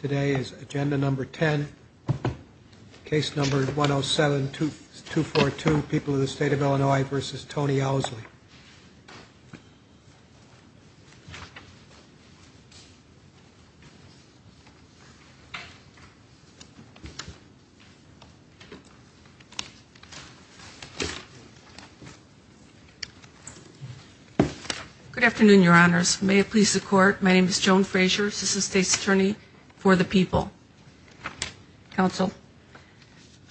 Today is agenda number 10, case number 107-242, People of the State of Illinois v. Tony Ousley. Good afternoon, Your Honors. May it please the Court, my name is Joan Frazier, Assistant State's Attorney for the People. Counsel.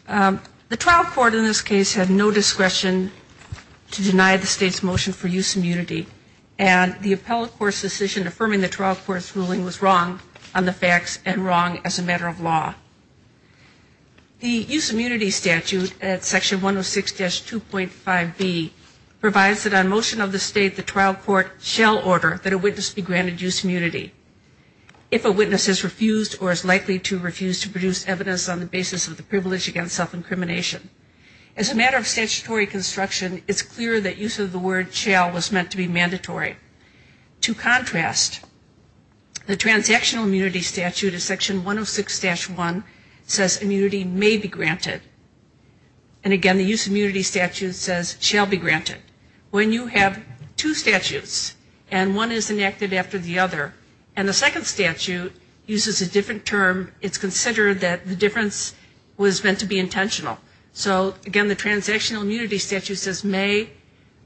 The trial court in this case had no discretion to deny the State's motion for use of immunity, and the appellate court's decision affirming the trial court's ruling was wrong on the facts and wrong as a matter of law. The use of immunity statute at Section 106-2.5b provides that on motion of the State, the trial court shall order that a witness be granted immunity on the basis of the privilege against self-incrimination. As a matter of statutory construction, it's clear that use of the word shall was meant to be mandatory. To contrast, the transactional immunity statute at Section 106-1 says immunity may be granted. And again, the use of immunity statute says shall be granted. When you have two statutes, and one is enacted after the other, and the intentional. So again, the transactional immunity statute says may,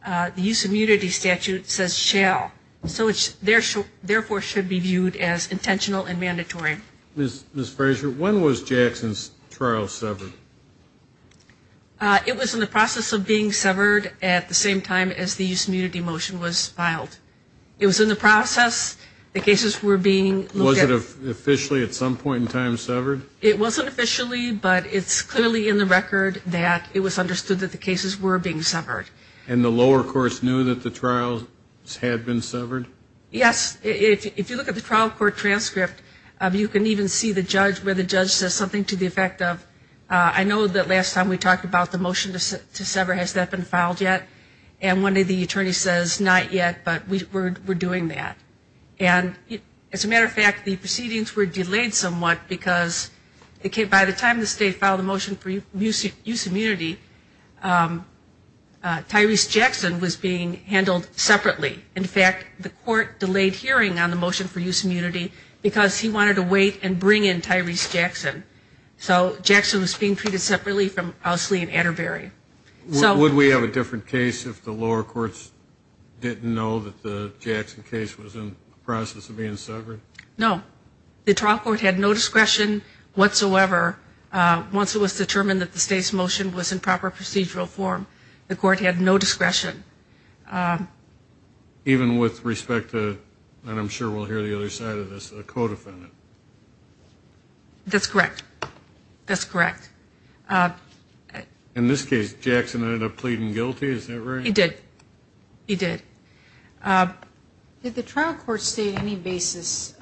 the use of immunity statute says shall. So it therefore should be viewed as intentional and mandatory. Ms. Frazier, when was Jackson's trial severed? It was in the process of being severed at the same time as the use of immunity motion was filed. It was in the process, the cases were being looked at. Was it officially at some point in time severed? It wasn't officially, but it's clearly in the record that it was understood that the cases were being severed. And the lower courts knew that the trials had been severed? Yes. If you look at the trial court transcript, you can even see the judge, where the judge says something to the effect of, I know that last time we talked about the motion to sever, has that been filed yet? And one day the attorney says, not yet, but we're doing that. And as a matter of fact, the proceedings were delayed somewhat because by the time the state filed the motion for use of immunity, Tyrese Jackson was being handled separately. In fact, the court delayed hearing on the motion for use of immunity because he wanted to wait and bring in Tyrese Jackson. So Jackson was being treated separately from Ousley and Atterbury. Would we have a different case if the lower courts didn't know that the Jackson case was in the process of being severed? No. The trial court had no discretion whatsoever once it was determined that the state's motion was in proper procedural form. The court had no discretion. Even with respect to, and I'm sure we'll hear the other side of this, a co-defendant? That's correct. That's correct. In this case, did the court state any basis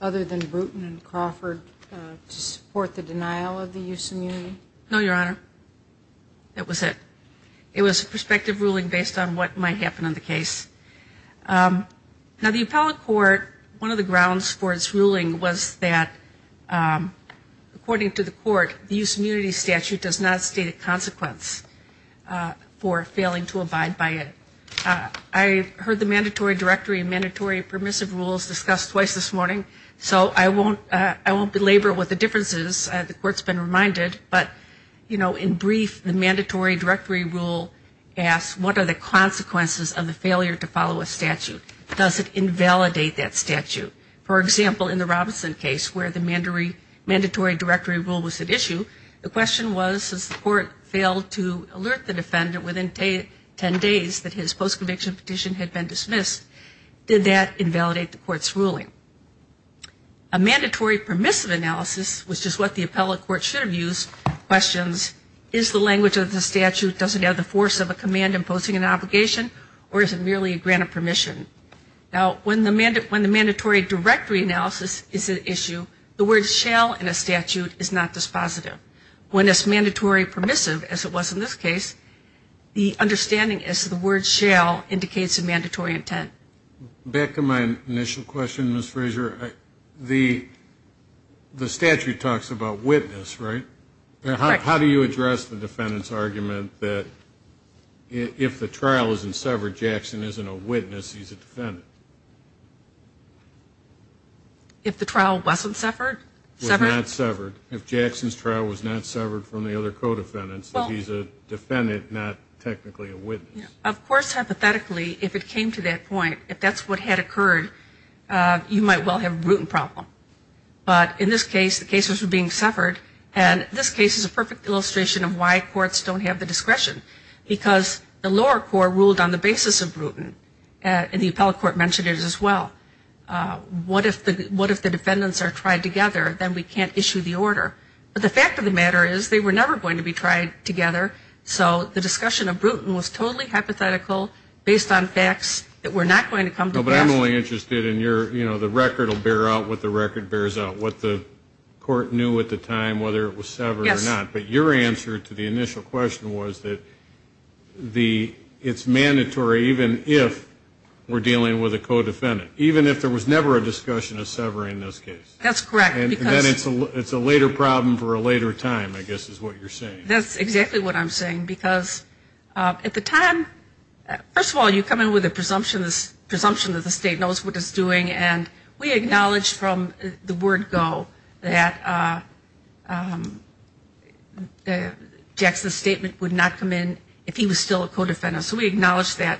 other than Bruton and Crawford to support the denial of the use of immunity? No, Your Honor. That was it. It was a prospective ruling based on what might happen in the case. Now, the appellate court, one of the grounds for its ruling was that according to the court, the use of immunity was to abide by it. I heard the mandatory directory and mandatory permissive rules discussed twice this morning, so I won't belabor what the difference is. The court's been reminded. But, you know, in brief, the mandatory directory rule asks what are the consequences of the failure to follow a statute? Does it invalidate that statute? For example, in the Robinson case where the mandatory directory rule was at issue, the question was has the court failed to alert the defendant within 10 days that his post-conviction petition had been dismissed? Did that invalidate the court's ruling? A mandatory permissive analysis, which is what the appellate court should have used, questions is the language of the statute, does it have the force of a command imposing an obligation, or is it merely a grant of permission? Now, when the mandatory directory analysis is at issue, the word shall in a statute is not always positive. When it's mandatory permissive, as it was in this case, the understanding is the word shall indicates a mandatory intent. Back to my initial question, Ms. Fraser, the statute talks about witness, right? How do you address the defendant's argument that if the trial isn't severed? If Jackson's trial was not severed from the other co-defendants, that he's a defendant, not technically a witness? Of course, hypothetically, if it came to that point, if that's what had occurred, you might well have a Bruton problem. But in this case, the cases were being severed, and this case is a perfect illustration of why courts don't have the discretion. Because the lower court ruled on the basis of Bruton, and the appellate court mentioned it as well. What if the defendants are tried together? Then we can't issue the order. But the fact of the matter is, they were never going to be tried together, so the discussion of Bruton was totally hypothetical based on facts that were not going to come to pass. But I'm only interested in your, you know, the record will bear out what the record bears out, what the court knew at the time, whether it was severed or not. Yes. But your answer to the initial question was that it's mandatory even if we're dealing with a co-defendant. Even if there was never a discussion of severing in this case. That's correct. And then it's a later problem for a later time, I guess is what you're saying. That's exactly what I'm saying. Because at the time, first of all, you come in with a presumption that the state knows what it's doing. And we acknowledge from the word go that Jackson's statement would not come in if he was still a co-defendant. So we acknowledge that.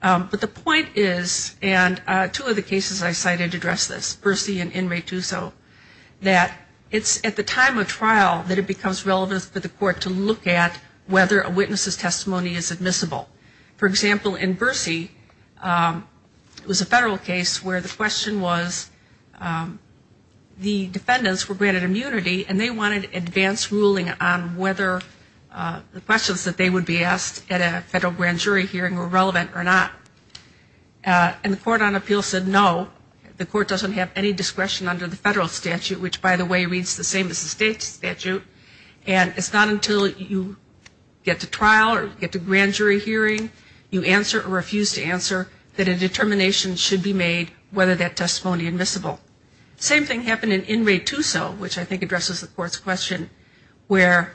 But the point is, and two of the cases I cited address this, Bersi and Inmate D'Uso, that it's at the time of trial that it becomes relevant for the court to look at whether a witness's testimony is admissible. For example, in Bersi, it was a federal case where the question was the defendants were granted immunity and they wanted advance ruling on whether the questions that they would be asked at a federal grand jury hearing were relevant or not. And the court on appeal said no. The court doesn't have any discretion under the federal statute, which by the way, reads the same as the state statute. And it's not until you get to trial or get to grand jury hearing, you answer or refuse to answer that a determination should be made whether that testimony is admissible. The same thing happened in Inmate D'Uso, which I think addresses the court's question, where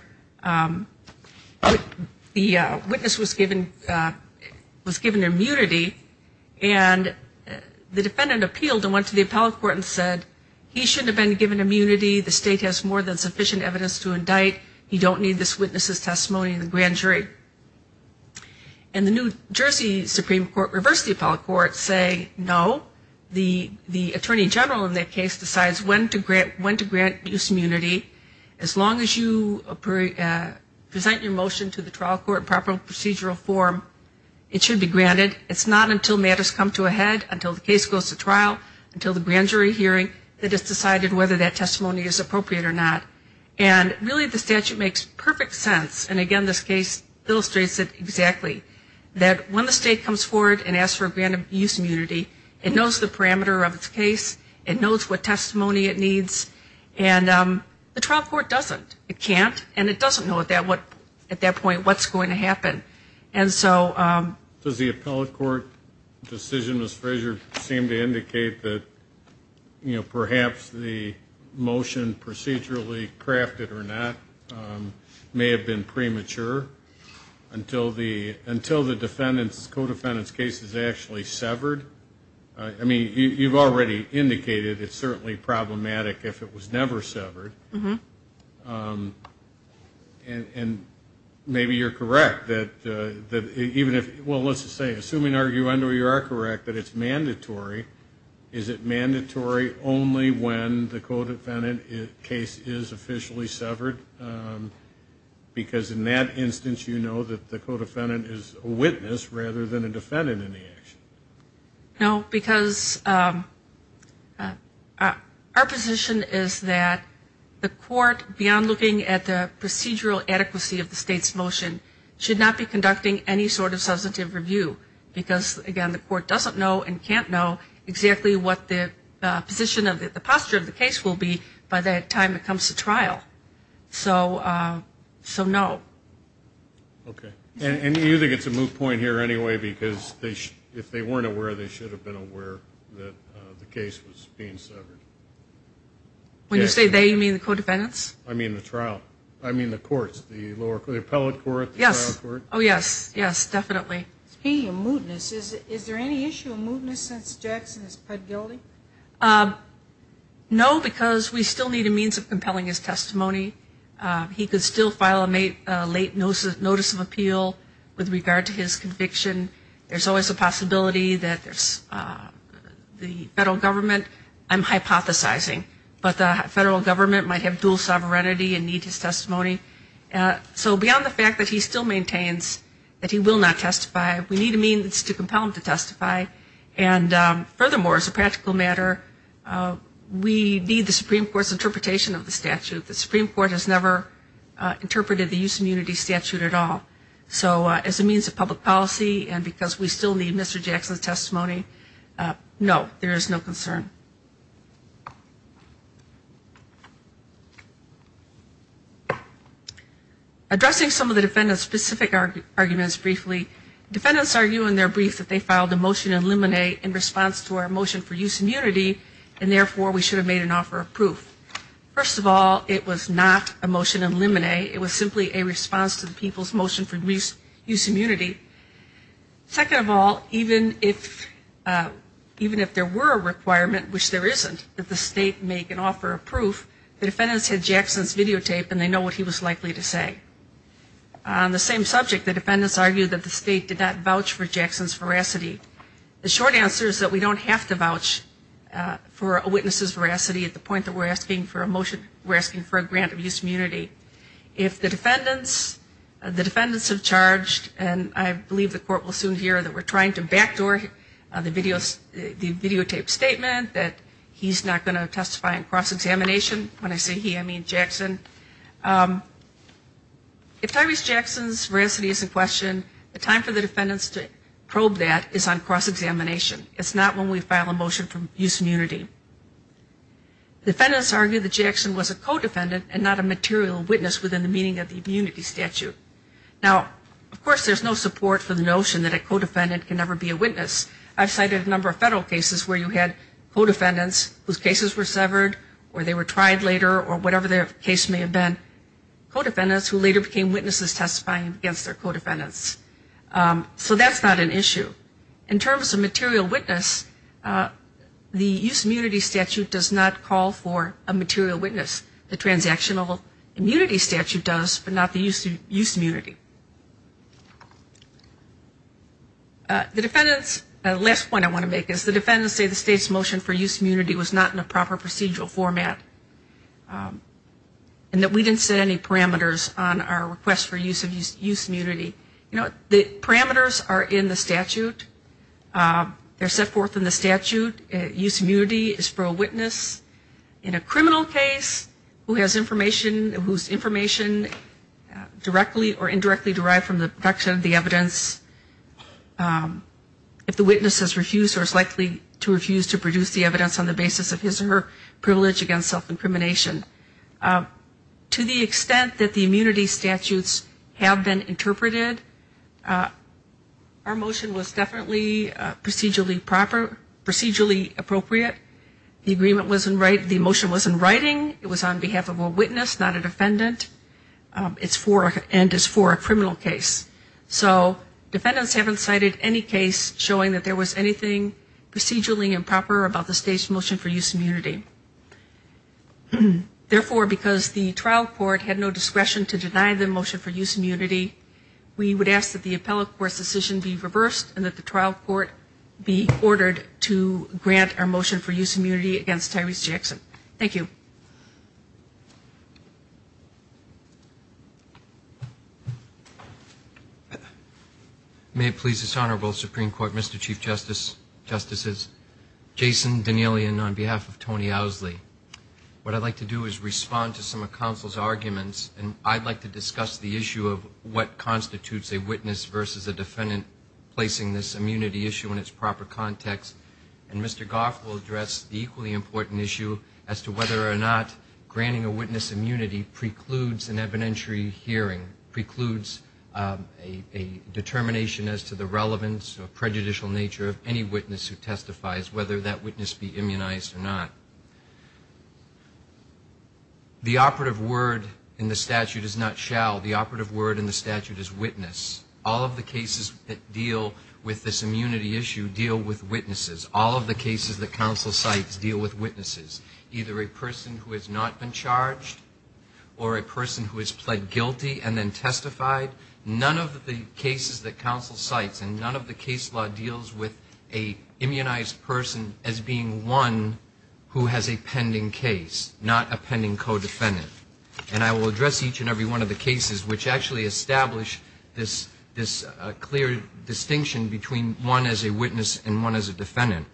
the witness was given immunity and the defendant appealed and went to the appellate court and said he shouldn't have been given immunity. The state has more than sufficient evidence to indict. He should be acquitted. And the court said no, you don't need this witness's testimony in the grand jury. And the New Jersey Supreme Court reversed the appellate court, saying no, the attorney general in that case decides when to grant D'Uso immunity. As long as you present your motion to the trial court in proper procedural form, it should be granted. It's not until matters come to a head, until the case goes to trial, until the grand jury hearing, that it's decided to grant D'Uso immunity. And it makes perfect sense. And again, this case illustrates it exactly. That when the state comes forward and asks for a grant of D'Uso immunity, it knows the parameter of its case. It knows what testimony it needs. And the trial court doesn't. It can't. And it doesn't know at that point what's going to happen. And so... I mean, you've already indicated it's certainly problematic if it was never severed. And maybe you're correct, that even if, well, let's just say, assuming arguendo, you are correct, that it's mandatory. Is it mandatory only when the co-defendant case is officially severed? Is it mandatory only when the defendant is a witness rather than a defendant in the action? No, because our position is that the court, beyond looking at the procedural adequacy of the state's motion, should not be conducting any sort of substantive review. Because, again, the court doesn't know and can't know exactly what the position of the posture of the case will be by the time it is severed. So no. Okay. And you think it's a moot point here anyway, because if they weren't aware, they should have been aware that the case was being severed? When you say they, you mean the co-defendants? I mean the trial. I mean the courts, the lower court, the appellate court, the trial court. Oh, yes. Yes, definitely. Speaking of mootness, is there any issue of mootness since Jackson has pled guilty? No, because we still need a means of compelling his testimony. He could still file a late notice of appeal with regard to his conviction. There's always a means to compel him to testify. And furthermore, as a practical matter, we need the Supreme Court's interpretation of the statute. The Supreme Court has never interpreted the use of immunity statute at all. So as a means of public policy and because we still need Mr. Jackson's testimony, no, there is no concern. Addressing some of the defendant's specific arguments briefly, defendants argue in their briefs that they filed a motion in limine in response to our motion for use of immunity, and therefore we should have made an offer of proof. First of all, it was not a motion in limine. It was simply a response to the people's motion for use of immunity. Second of all, even if there were a requirement, it was not a motion in limine. It was simply a response to the people's motion for use of immunity. When the defendants made the motion, which there isn't, that the state make an offer of proof, the defendants had Jackson's videotape and they know what he was likely to say. On the same subject, the defendants argued that the state did not vouch for Jackson's veracity. The short answer is that we don't have to vouch for a witness's veracity at the point that we're asking for a motion, we're asking for a grant of use of immunity. If the defendants have charged and I believe the court will soon hear that we're trying to backdoor the videotape statement that we're trying to backdoor the videotape statement that he's not going to testify in cross-examination, when I say he, I mean Jackson, if Tyrese Jackson's veracity is in question, the time for the defendants to probe that is on cross-examination. It's not when we file a motion for use of immunity. Defendants argued that Jackson was a co-defendant and not a material witness within the meaning of the immunity statute. Now, of course, there's no support for the notion that a co-defendant can never be a witness. I've cited a number of federal cases where you had co-defendants whose cases were severed or they were tried later or whatever their case may have been, co-defendants who later became witnesses testifying against their co-defendants. So that's not an issue. In terms of material witness, the use of immunity statute does not call for a material witness. The transactional immunity statute does, but not the use of immunity. The defendants, the last point I want to make is the defendants say the state's motion for use of immunity was not in a proper procedural format and that we didn't set any parameters on our request for use of use of immunity. You know, the parameters are in the statute. They're set forth in the statute. Use of immunity is for a witness in a criminal case who has information, whose information directly or indirectly derived from the production of the evidence. If the witness has refused or is likely to refuse to produce the evidence on the basis of his or her privilege against self-incrimination. To the extent that the immunity statutes have been interpreted, our motion was definitely procedurally appropriate. The agreement wasn't right, the motion wasn't writing. It was on behalf of a witness, not a defendant. It's for and is for a criminal case. So defendants haven't cited any case showing that there was anything procedurally improper about the state's motion for use of immunity. Therefore, because the trial court had no discretion to deny the motion for use of immunity, we would ask that the appellate court's decision be reversed and that the trial court be ordered to grant our motion for use of immunity against Tyrese Jackson. Thank you. May it please this Honorable Supreme Court, Mr. Chief Justice, Justices, Jason Danielian on behalf of Tony Owsley. What I'd like to do is respond to some of counsel's arguments, and I'd like to discuss the issue of what constitutes a witness versus a defendant placing this immunity issue in its proper context. And Mr. Garf will address the equally important issue as to whether or not a defendant has the right to use immunity. And whether or not granting a witness immunity precludes an evidentiary hearing, precludes a determination as to the relevance or prejudicial nature of any witness who testifies, whether that witness be immunized or not. The operative word in the statute is not shall. The operative word in the statute is witness. All of the cases that deal with this immunity issue deal with witnesses. All of the cases that counsel cites deal with witnesses. Either a person who has not been charged or a person who has pled guilty and then testified. None of the cases that counsel cites and none of the case law deals with an immunized person as being one who has a pending case, not a pending co-defendant. And I will address each and every one of the cases which actually establish this clear distinction between one as a witness and one as a defendant.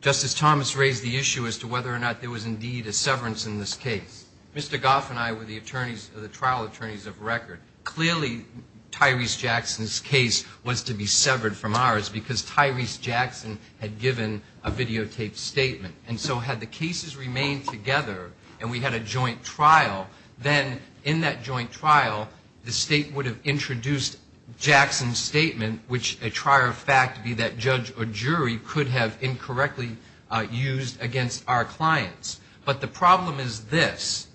Justice Thomas raised the issue as to whether or not there was indeed a severance in this case. Mr. Garf and I were the attorneys, the trial attorneys of record. Clearly, Tyrese Jackson's case was to be severed from ours because Tyrese Jackson had given a videotaped statement. And so had the cases remained together and we had a joint trial, then in that joint trial, the State would have introduced Jackson's statement, which a trier of fact, be that judge or jury, would have been able to determine whether or not Tyrese Jackson had given a videotaped statement. But the problem is this.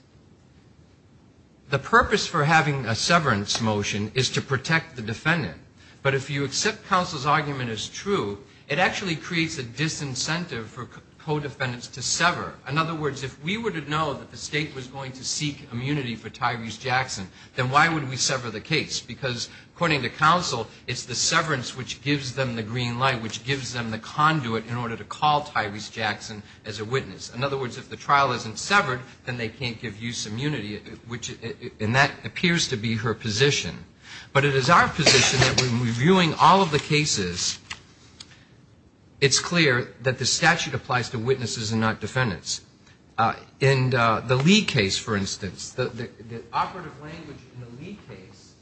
The purpose for having a severance motion is to protect the defendant. But if you accept counsel's argument as true, it actually creates a disincentive for co-defendants to sever. In other words, if we were to know that the State was going to seek immunity for Tyrese Jackson, then why would we sever the case? Because, according to counsel, it's the severance which gives them the green light, which gives them the confidence that the State is going to seek immunity for Tyrese Jackson. And the State is going to have to have a conduit in order to call Tyrese Jackson as a witness. In other words, if the trial isn't severed, then they can't give use immunity, which, and that appears to be her position. But it is our position that when we're viewing all of the cases, it's clear that the statute applies to witnesses and not defendants. In the Lee case, for instance, the operative language in the Lee case,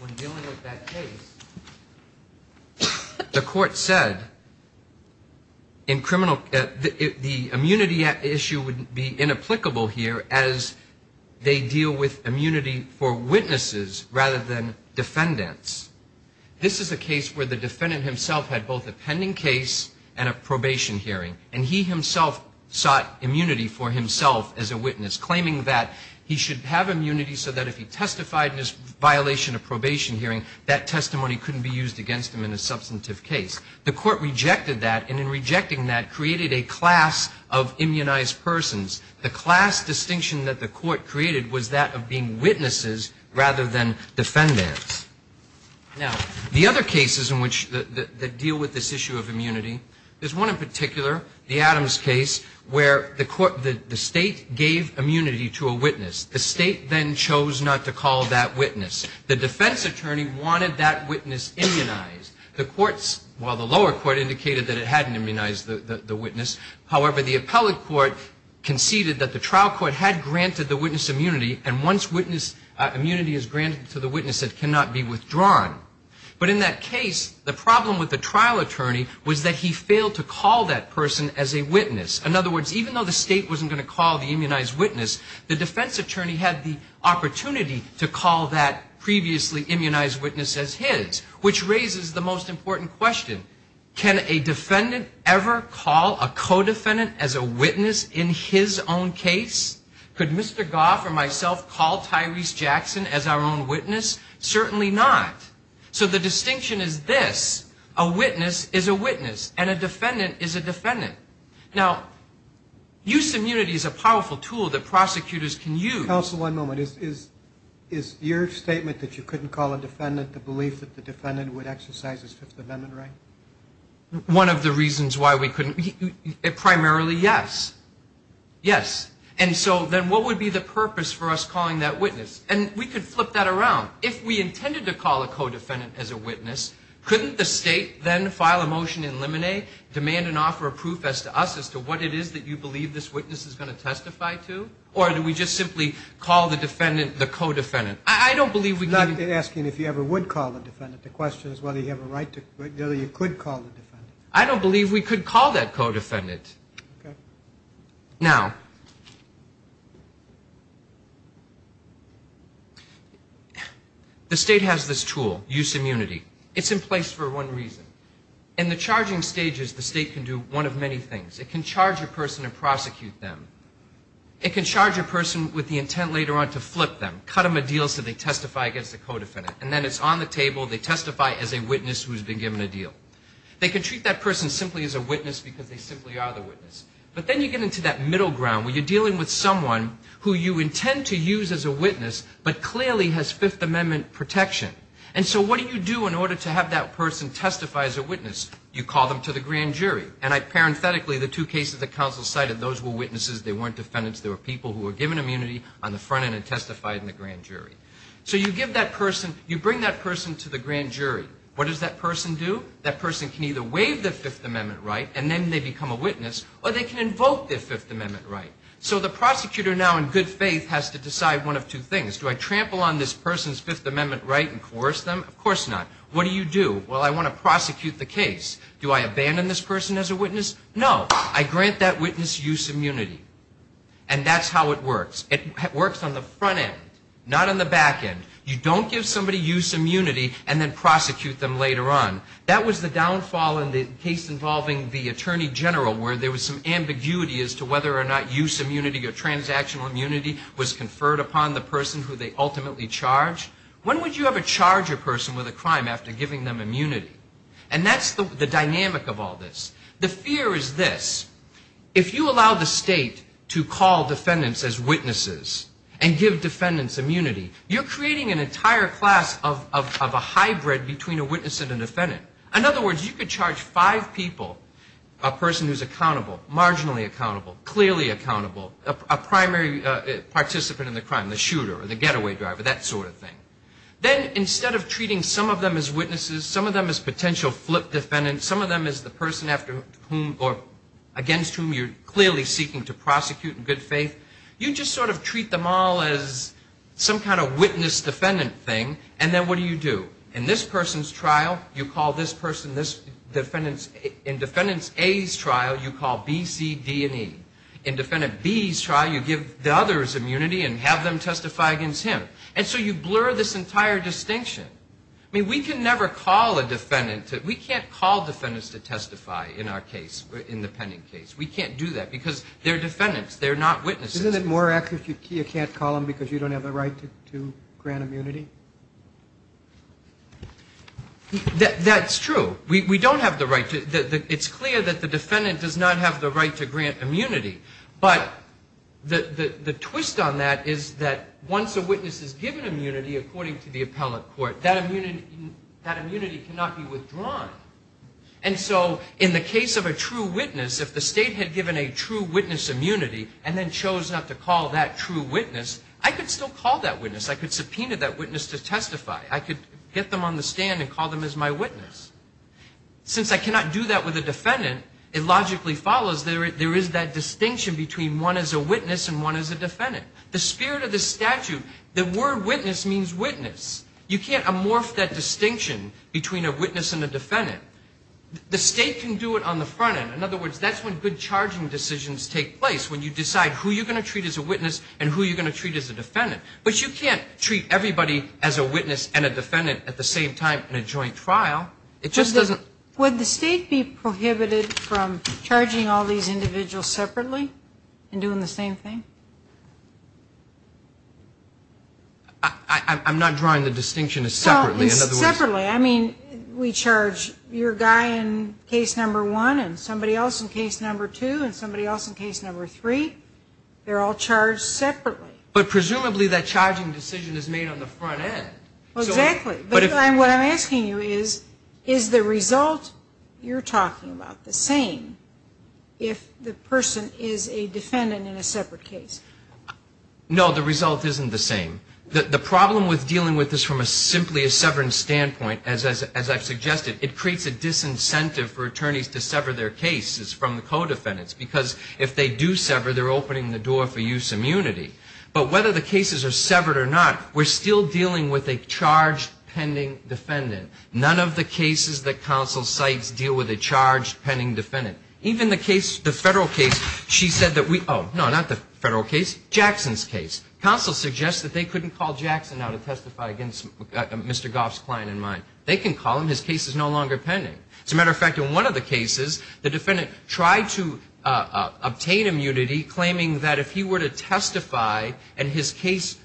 when dealing with that case, is that the State is going to seek immunity. The court said in criminal, the immunity issue would be inapplicable here as they deal with immunity for witnesses rather than defendants. This is a case where the defendant himself had both a pending case and a probation hearing. And he himself sought immunity for himself as a witness, claiming that he should have immunity so that if he testified in his violation of probation hearing, that testimony couldn't be used against him in a substantive case. The court rejected that, and in rejecting that, created a class of immunized persons. The class distinction that the court created was that of being witnesses rather than defendants. Now, the other cases in which, that deal with this issue of immunity, there's one in particular, the Adams case, where the court, the State gave immunity to a witness. The State then chose not to call that witness. The defense attorney wanted that witness immunized. The courts, while the lower court indicated that it hadn't immunized the witness, however, the appellate court conceded that the trial court had granted the witness immunity, and once witness immunity is granted to the witness, it cannot be withdrawn. But in that case, the problem with the trial attorney was that he failed to call that person as a witness. In other words, even though the State wasn't going to call the immunized witness, the defense attorney had the opportunity to call that previously immunized witness as his, which raises the most important question. Can a defendant ever call a co-defendant as a witness in his own case? Could Mr. Goff or myself call Tyrese Jackson as our own witness? Certainly not. So the distinction is this. A witness is a witness, and a defendant is a defendant. Now, use of immunity is a powerful tool that prosecutors can use. Counsel, one moment. Is your statement that you couldn't call a defendant the belief that the defendant would exercise his Fifth Amendment right? One of the reasons why we couldn't, primarily yes. Yes. And so then what would be the purpose for us calling that witness? And we could flip that around. If we intended to call a co-defendant as a witness, couldn't the State then file a motion in limine, demand and offer a proof as to us as to what it is that you believe this witness is going to testify to? Or do we just simply call the defendant the co-defendant? I don't believe we can I'm asking if you ever would call the defendant. The question is whether you have a right to, whether you could call the defendant. I don't believe we could call that co-defendant. Okay. Now, the State has this tool, use of immunity. It's in place for one reason. In the charging stages, the State can do one of many things. It can charge a person and prosecute them. It can charge a person with the intent later on to flip them, cut them a deal so they testify against the co-defendant, and then it's on the table, they testify as a witness who has been given a deal. They can treat that person simply as a witness because they simply are the witness. But then you get into that middle ground where you're dealing with someone who you intend to use as a witness but clearly has Fifth Amendment protection. And so what do you do in order to have that person testify as a witness? You call them to the grand jury. And I parenthetically, the two cases that counsel cited, those were witnesses, they weren't defendants, they were people who were given immunity on the front end and testified in the grand jury. So you give that person, you bring that person to the grand jury. What does that person do? That person can either waive the Fifth Amendment right and then they become a witness, or they can invoke their Fifth Amendment right. So the prosecutor now in good faith has to decide one of two things. Do I trample on this person's Fifth Amendment right and coerce them? Of course not. What do you do? Well, I want to prosecute the case. Do I abandon this person as a witness? No. I grant that witness use immunity. And that's how it works. It works on the front end, not on the back end. You don't give somebody use immunity and then prosecute them later on. That was the downfall in the case involving the attorney general where there was some ambiguity as to whether or not use immunity or transactional immunity was conferred upon the person who they ultimately charged. When would you ever charge a person with a crime after giving them immunity? And that's the dynamic of all this. The fear is this. If you allow the state to call defendants as witnesses and give defendants immunity, you're creating an entire class of a hybrid between a witness and a defendant. In other words, you could charge five people, a person who's accountable, marginally accountable, clearly accountable, a primary participant in the crime, the shooter or the getaway driver, that sort of thing. Then instead of treating some of them as witnesses, some of them as potential flip defendants, some of them as the person against whom you're clearly seeking to prosecute in good faith, you just sort of treat them all as some kind of witness-defendant thing. And then what do you do? In this person's trial, you call this person this defendant's. In defendant A's trial, you call B, C, D, and E. In defendant B's trial, you give the other's immunity and have them testify against him. And so you blur this entire distinction. I mean, we can never call a defendant. We can't call defendants to testify in our case, in the Penning case. We can't do that because they're defendants. They're not witnesses. Isn't it more accurate if you can't call them because you don't have the right to grant immunity? That's true. We don't have the right to. It's clear that the defendant does not have the right to grant immunity. But the twist on that is that once a witness is given immunity, according to the appellate court, that immunity cannot be withdrawn. And so in the case of a true witness, if the state had given a true witness immunity and then chose not to call that true witness, I could still call that witness. I could subpoena that witness to testify. I could get them on the stand and call them as my witness. Since I cannot do that with a defendant, it logically follows there is that distinction between one is a witness and one is a defendant. The spirit of the statute, the word witness means witness. You can't amorph that distinction between a witness and a defendant. The state can do it on the front end. In other words, that's when good charging decisions take place, when you decide who you're going to treat as a witness and who you're going to treat as a defendant. But you can't treat everybody as a witness and a defendant at the same time in a joint trial. It just doesn't – Would the state be prohibited from charging all these individuals separately and doing the same thing? I'm not drawing the distinction as separately. Separately. I mean, we charge your guy in case number one and somebody else in case number two and somebody else in case number three. They're all charged separately. But presumably that charging decision is made on the front end. Exactly. What I'm asking you is, is the result you're talking about the same if the person is a defendant in a separate case? No, the result isn't the same. The problem with dealing with this from a simply a severance standpoint, as I've suggested, it creates a disincentive for attorneys to sever their cases from the co-defendants. Because if they do sever, they're opening the door for use immunity. But whether the cases are severed or not, we're still dealing with a charged pending defendant. None of the cases that counsel cites deal with a charged pending defendant. Even the case, the federal case, she said that we – oh, no, not the federal case, Jackson's case. Counsel suggests that they couldn't call Jackson out to testify against Mr. Goff's client and mine. They can call him. His case is no longer pending. As a matter of fact, in one of the cases, the defendant tried to obtain immunity, claiming that if he were to testify and his case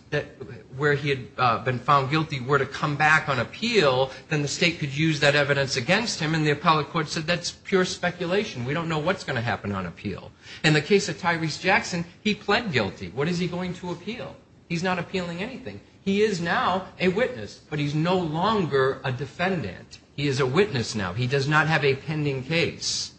where he had been found guilty were to come back on appeal, then the state could use that evidence against him. And then the appellate court said that's pure speculation. We don't know what's going to happen on appeal. In the case of Tyrese Jackson, he pled guilty. What is he going to appeal? He's not appealing anything. He is now a witness, but he's no longer a defendant. He is a witness now. He does not have a pending case.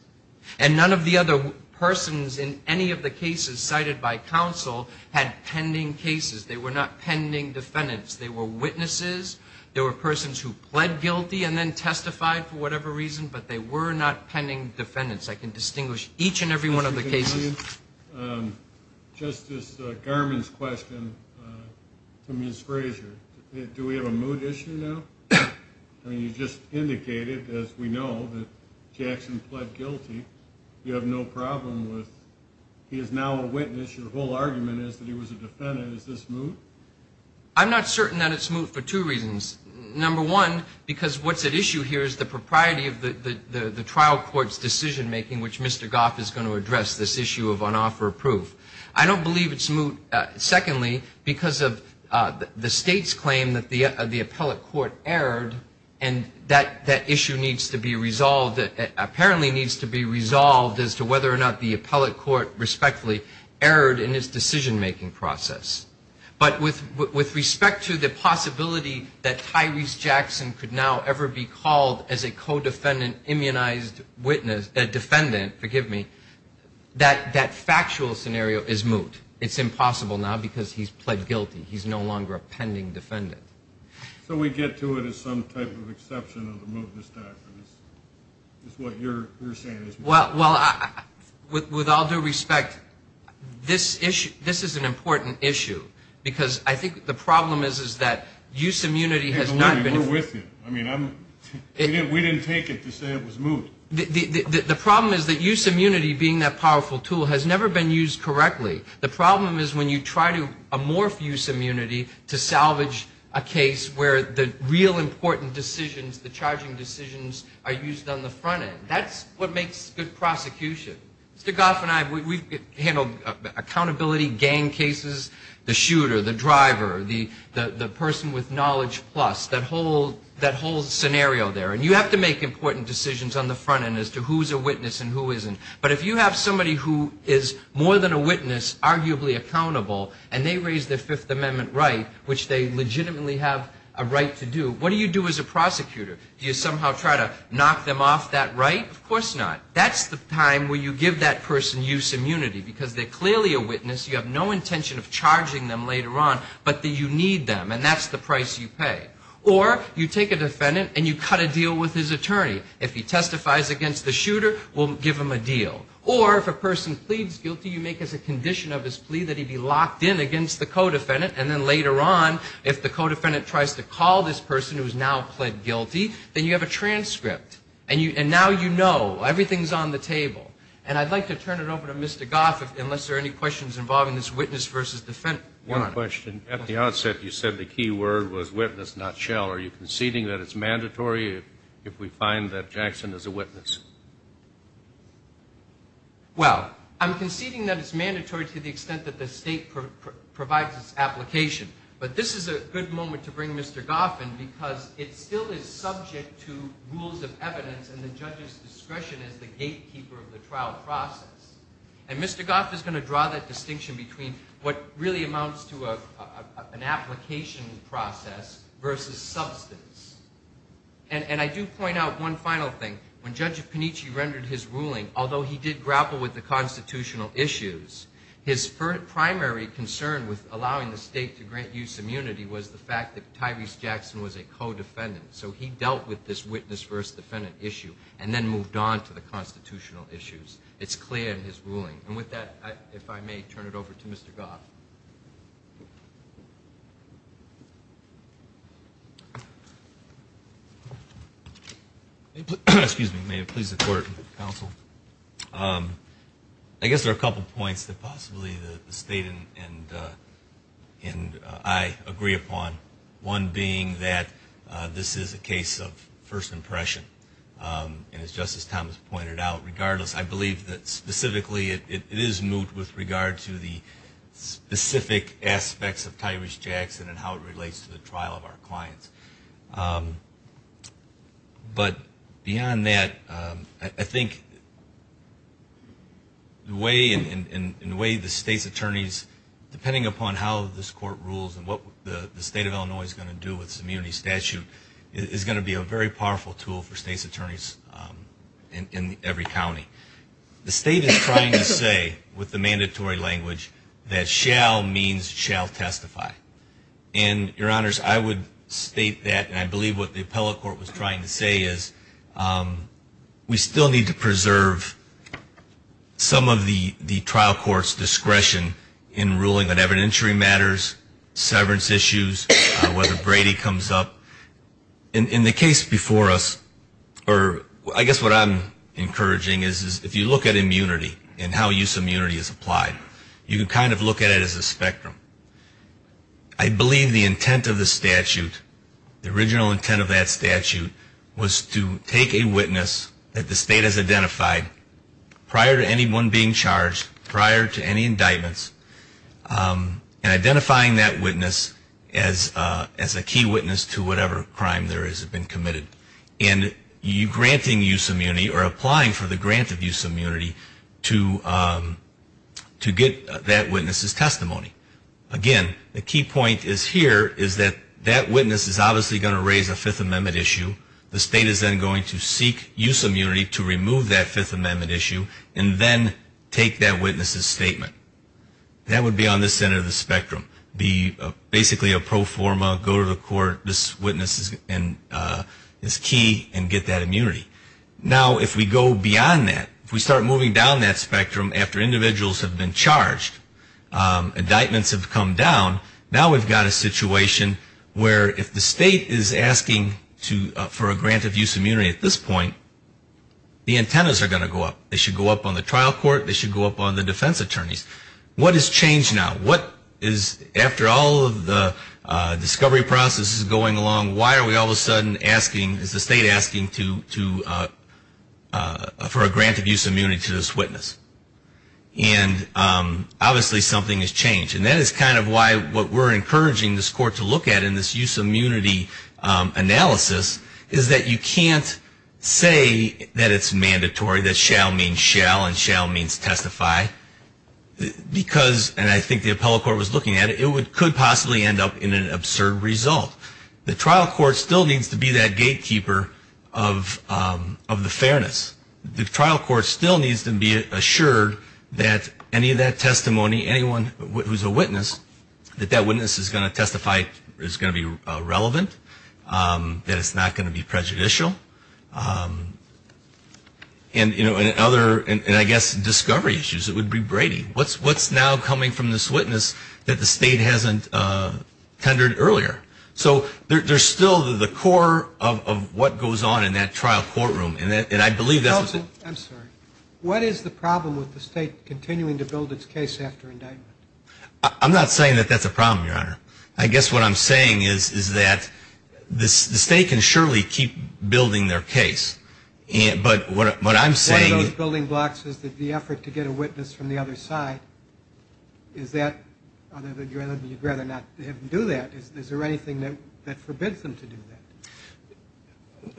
And none of the other persons in any of the cases cited by counsel had pending cases. They were not pending defendants. They were witnesses. They were persons who pled guilty and then testified for whatever reason. But they were not pending defendants. I can distinguish each and every one of the cases. Justice Garmon's question to Ms. Frazier. Do we have a mood issue now? I mean, you just indicated, as we know, that Jackson pled guilty. You have no problem with he is now a witness. Your whole argument is that he was a defendant. Is this moot? I'm not certain that it's moot for two reasons. Number one, because what's at issue here is the propriety of the trial court's decision-making, which Mr. Goff is going to address this issue of on-offer proof. I don't believe it's moot. Secondly, because of the state's claim that the appellate court erred, and that issue needs to be resolved. It apparently needs to be resolved as to whether or not the appellate court respectfully erred in its decision-making process. But with respect to the possibility that Tyrese Jackson could now ever be called as a co-defendant immunized defendant, forgive me, that factual scenario is moot. It's impossible now because he's pled guilty. He's no longer a pending defendant. So we get to it as some type of exception of the mootness doctrine, is what you're saying is moot? Well, with all due respect, this is an important issue, because I think the problem is that use immunity has not been... We're with you. We didn't take it to say it was moot. The problem is that use immunity, being that powerful tool, has never been used correctly. The problem is when you try to amorph use immunity to salvage a case where the real important decisions, the charging decisions, are used on the front end. That's what makes good prosecution. Mr. Goff and I, we've handled accountability, gang cases, the shooter, the driver, the person with knowledge plus, that whole scenario there. And you have to make important decisions on the front end as to who's a witness and who isn't. So if a person is arguably accountable and they raise their Fifth Amendment right, which they legitimately have a right to do, what do you do as a prosecutor? Do you somehow try to knock them off that right? Of course not. That's the time where you give that person use immunity, because they're clearly a witness. You have no intention of charging them later on, but you need them, and that's the price you pay. Or you take a defendant and you cut a deal with his attorney. If he testifies against the shooter, we'll give him a deal. Or if a person pleads guilty, you make as a condition of his plea that he be locked in against the co-defendant, and then later on, if the co-defendant tries to call this person who's now pled guilty, then you have a transcript. And now you know. Everything's on the table. And I'd like to turn it over to Mr. Goff, unless there are any questions involving this witness versus defendant. One question. At the outset, you said the key word was witness, not shell. Are you conceding that it's mandatory if we find that Jackson is a witness? Well, I'm conceding that it's mandatory to the extent that the state provides its application. But this is a good moment to bring Mr. Goff in, because it still is subject to rules of evidence and the judge's discretion as the gatekeeper of the trial. And Mr. Goff is going to draw that distinction between what really amounts to an application process versus substance. And I do point out one final thing. When Judge Panici rendered his ruling, although he did grapple with the constitutional issues, his primary concern with allowing the state to grant use immunity was the fact that Tyrese Jackson was a co-defendant. So he dealt with this witness versus defendant issue and then moved on to the constitutional issues. It's clear in his ruling. And with that, if I may, turn it over to Mr. Goff. Excuse me. May it please the court, counsel? I guess there are a couple points that possibly the state and I agree upon. One being that this is a case of first impression. And as Justice Thomas pointed out, regardless, I believe that specifically it is moot with regard to the specific aspects of Tyrese Jackson and how it relates to the trial of our clients. But beyond that, I think in the way the state's attorneys, depending upon how this court rules and what the state of Alabama rules, I think the way the state of Illinois is going to do with its immunity statute is going to be a very powerful tool for state's attorneys in every county. The state is trying to say with the mandatory language that shall means shall testify. And, Your Honors, I would state that and I believe what the appellate court was trying to say is we still need to preserve some of the trial court's discretion in ruling on evidentiary matters, severance issues, and whether Brady comes up. In the case before us, or I guess what I'm encouraging is if you look at immunity and how use of immunity is applied, you can kind of look at it as a spectrum. I believe the intent of the statute, the original intent of that statute, was to take a witness that the state has identified prior to anyone being convicted as a key witness to whatever crime there has been committed. And granting use of immunity or applying for the grant of use of immunity to get that witness's testimony. Again, the key point is here is that that witness is obviously going to raise a Fifth Amendment issue. The state is then going to seek use of immunity to remove that Fifth Amendment issue and then take that witness's statement. That would be on the center of the spectrum, be basically a pro forma, go to the court, this witness is key, and get that immunity. Now, if we go beyond that, if we start moving down that spectrum after individuals have been charged, indictments have come down, now we've got a situation where if the state is asking for a grant of use of immunity at this point, the antennas are going to go up. They should go up on the trial court, they should go up on the defense attorneys. What has changed now? After all of the discovery process is going along, why are we all of a sudden asking, is the state asking for a grant of use of immunity to this witness? And obviously something has changed. And that is kind of why what we're encouraging this court to look at in this use of immunity analysis is that you can't say that it's mandatory, that shall means shall and shall means testify, because, and I think the appellate court was looking at it, it could possibly end up in an absurd result. The trial court still needs to be that gatekeeper of the fairness. The trial court still needs to be assured that any of that testimony, anyone who's a witness, that that witness is going to testify, is going to be relevant, that it's not going to be prejudicial. And, you know, in other, and I guess discovery, you know, there are discovery issues. It would be Brady. What's now coming from this witness that the state hasn't tendered earlier? So there's still the core of what goes on in that trial courtroom, and I believe that's the... I'm sorry. What is the problem with the state continuing to build its case after indictment? I'm not saying that that's a problem, Your Honor. I guess what I'm saying is that the state can surely keep building their case, but what I'm saying...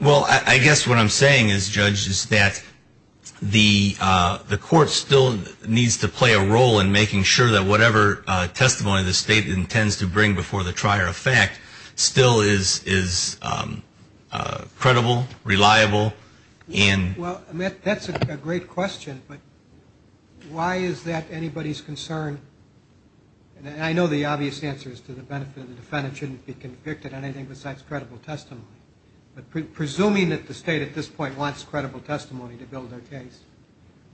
Well, I guess what I'm saying is, Judge, is that the court still needs to play a role in making sure that whatever testimony the state intends to bring before the trier of fact still is credible, reliable, and... Well, that's a great question, but why is that anybody's concern? And I know the obvious answer is to the benefit of the defendant shouldn't be convicted on anything besides credible testimony. But presuming that the state at this point wants credible testimony to build their case,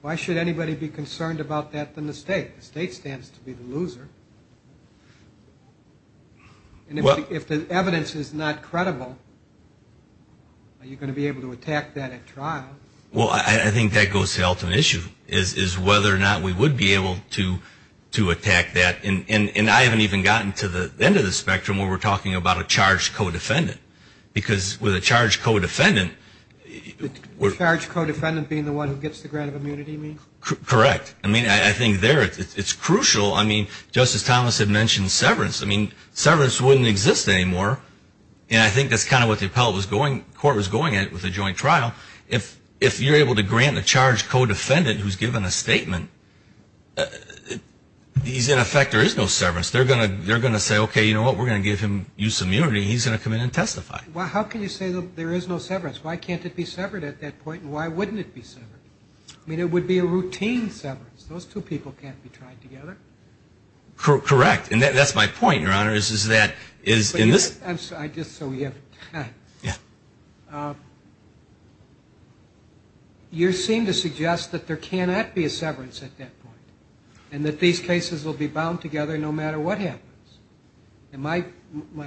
why should anybody be concerned about that than the state? The state stands to be the loser. And if the evidence is not credible, are you going to be able to attack that at trial? Well, I think that goes to the ultimate issue, is whether or not we would be able to attack that. And I haven't even gotten to the end of the spectrum where we're talking about a charged co-defendant, because with a charged co-defendant... A charged co-defendant being the one who gets the grant of immunity, you mean? Correct. I mean, I think there it's crucial. I mean, Justice Thomas had mentioned severance. I mean, severance wouldn't exist anymore, and I think that's kind of what the appellate court was going at with the joint trial. If you're able to grant a charged co-defendant who's given a statement, he's in effect, there is no severance. They're going to say, okay, you know what, we're going to give him use of immunity, and he's going to come in and testify. Well, how can you say there is no severance? Why can't it be severed at that point, and why wouldn't it be severed? I mean, it would be a routine severance. Those two people can't be tried together. Correct. And that's my point, Your Honor, is that... I'm sorry, just so we have time. You seem to suggest that there cannot be a severance at that point, and that these cases will be bound together no matter what happens. And my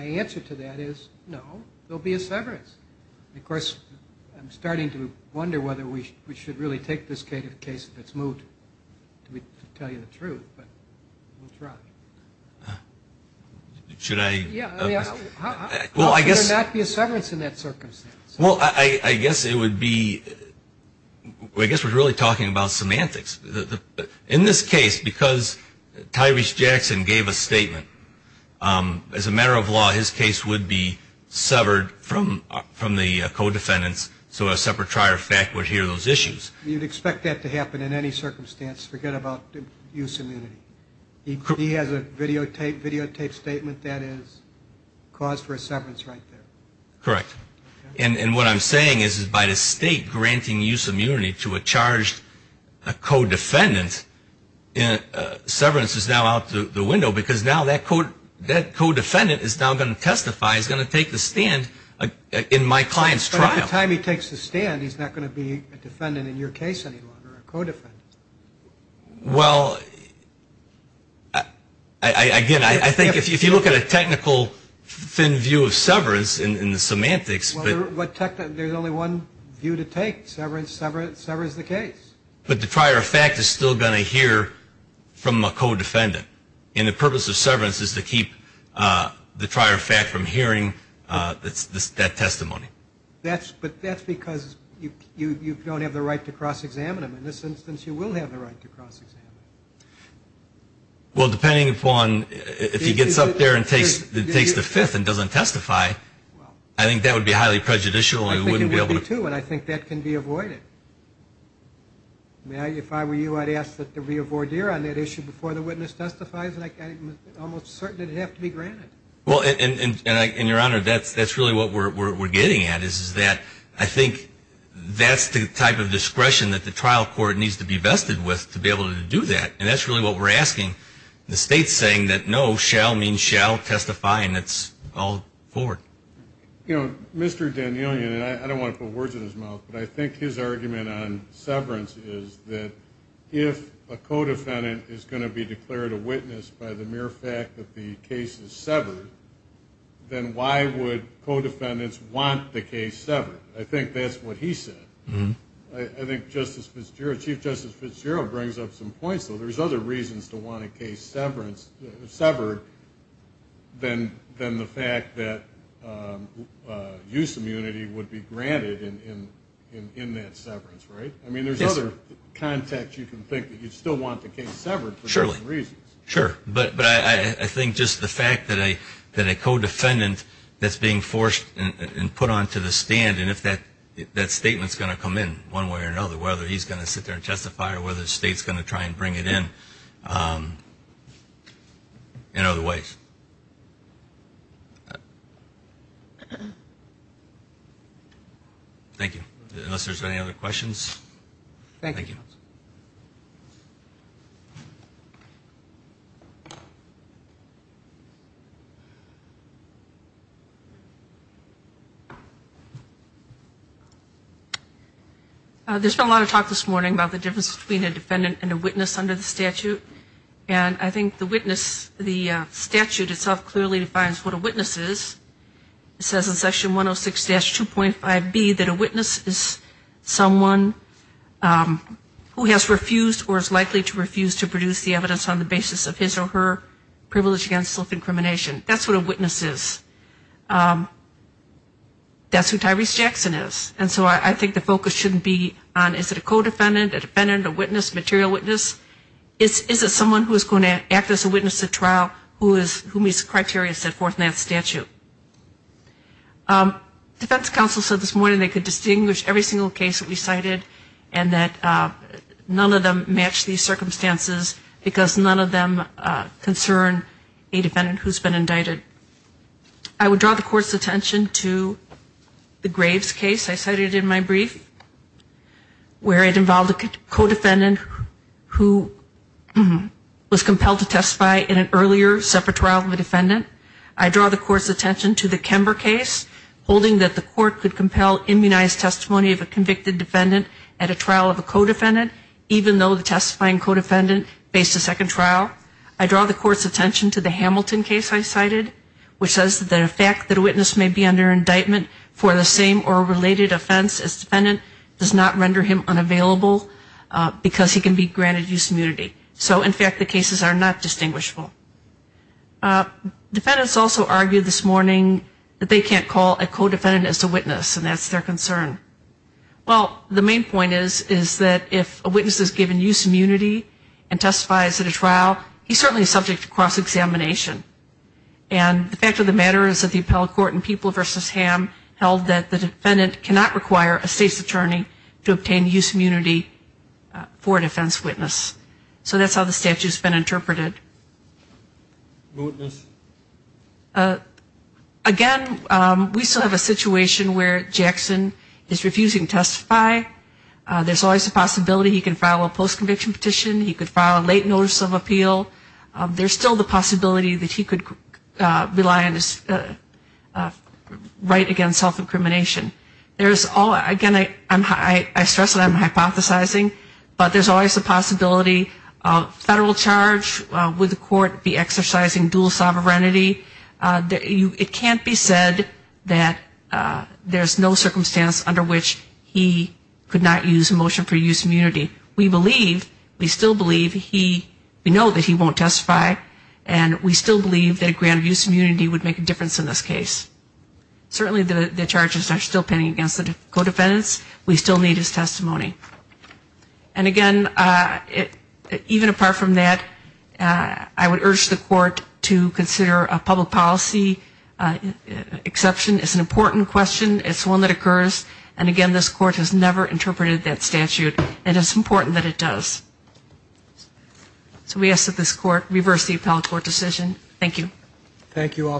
answer to that is, no, there'll be a severance. Of course, I'm starting to wonder whether we should really take this case if it's moved, to tell you the truth. That's right. Should I... Well, I guess... How can there not be a severance in that circumstance? Well, I guess it would be, I guess we're really talking about semantics. In this case, because Tyrese Jackson gave a statement, as a matter of law, his case would be severed from the co-defendants, so a separatrior fact would hear those issues. You'd expect that to happen in any circumstance. Forget about use immunity. He has a videotaped statement that is cause for a severance right there. Correct. And what I'm saying is, by the state granting use immunity to a charged co-defendant, severance is now out the window, because now that co-defendant is now going to testify, is going to take the stand in my client's trial. But by the time he takes the stand, he's not going to be a defendant in your case any longer, a co-defendant. Well, again, I think if you look at a technical, thin view of severance in the semantics... Well, there's only one view to take. Severance, severance, severance the case. But the prior fact is still going to hear from a co-defendant. And the purpose of severance is to keep the prior fact from hearing that testimony. But that's because you don't have the right to cross-examine him. In this instance, you will have the right to cross-examine him. Well, depending upon if he gets up there and takes the fifth and doesn't testify, I think that would be highly prejudicial. I think it would be, too, and I think that can be avoided. If I were you, I'd ask that there be a voir dire on that issue before the witness testifies, and I'm almost certain it'd have to be granted. Well, and your Honor, that's really what we're getting at, is that I think that's the type of discretion that the trial court needs to be vested with to be able to do that. And that's really what we're asking. The state's saying that no, shall means shall testify, and that's all forward. You know, Mr. Danielian, and I don't want to put words in his mouth, but I think his argument on severance is that if a co-defendant is going to be declared a witness by the mere fact that the case is severed, then he's going to have to testify. If the case is severed, then why would co-defendants want the case severed? I think that's what he said. I think Chief Justice Fitzgerald brings up some points, though. There's other reasons to want a case severed than the fact that use of immunity would be granted in that severance, right? I mean, there's other context you can think of. You'd still want the case severed for those reasons. Sure. But I think just the fact that a co-defendant that's being forced and put onto the stand, and if that statement's going to come in one way or another, whether he's going to sit there and testify or whether the state's going to try and bring it in, in other ways. Thank you. Unless there's any other questions. There's been a lot of talk this morning about the difference between a defendant and a witness under the statute. And I think the witness, the statute itself clearly defines what a witness is. It says in Section 106-2.5B that a witness is someone who has refused or is likely to refuse to produce the evidence on the basis of evidence. And I think that's a good point. And so I think the focus shouldn't be on is it a co-defendant, a defendant, a witness, a material witness. It's is it someone who is going to act as a witness at trial who meets the criteria set forth in that statute. Defense counsel said this morning they could distinguish every single case that we cited and that none of them match these circumstances, because none of them meet the criteria set forth in that statute. And so I think that's a good point. I would draw the court's attention to the Graves case I cited in my brief, where it involved a co-defendant who was compelled to testify in an earlier separate trial of a defendant. I draw the court's attention to the Kember case, holding that the court could compel immunized testimony of a convicted defendant at a trial of a co-defendant, even though the testifying co-defendant faced a second trial. I draw the court's attention to the Hamilton case I cited, which says that the fact that a witness may be under indictment for the same or related offense as defendant does not render him unavailable, because he can be granted use immunity. So in fact the cases are not distinguishable. Defendants also argued this morning that they can't call a co-defendant as a witness, and that's their concern. Well, the main point is, is that if a witness is given use immunity and testifies at a trial, he certainly can't call a co-defendant as a witness. He's certainly subject to cross-examination. And the fact of the matter is that the appellate court in People v. Ham held that the defendant cannot require a state's attorney to obtain use immunity for a defense witness. So that's how the statute's been interpreted. Again, we still have a situation where Jackson is refusing to testify. There's always a possibility he can file a post-conviction petition, he could file a late notice of appeal, or he could file a post-conviction petition. There's still the possibility that he could rely on his right against self-incrimination. There's all, again, I stress that I'm hypothesizing, but there's always a possibility of federal charge, would the court be exercising dual sovereignty. It can't be said that there's no circumstance under which he could not use a motion for use immunity. We believe, we still believe he, we know that he won't testify, and we still believe that a grant of use immunity would make a difference in this case. Certainly the charges are still pending against the co-defendants. We still need his testimony. And again, even apart from that, I would urge the court to consider a public policy exception. It's an important question. It's one that occurs. And again, this court has never interpreted that statute. And it's important that it does. So we ask that this court reverse the appellate court decision. Thank you. Thank you all, counsel.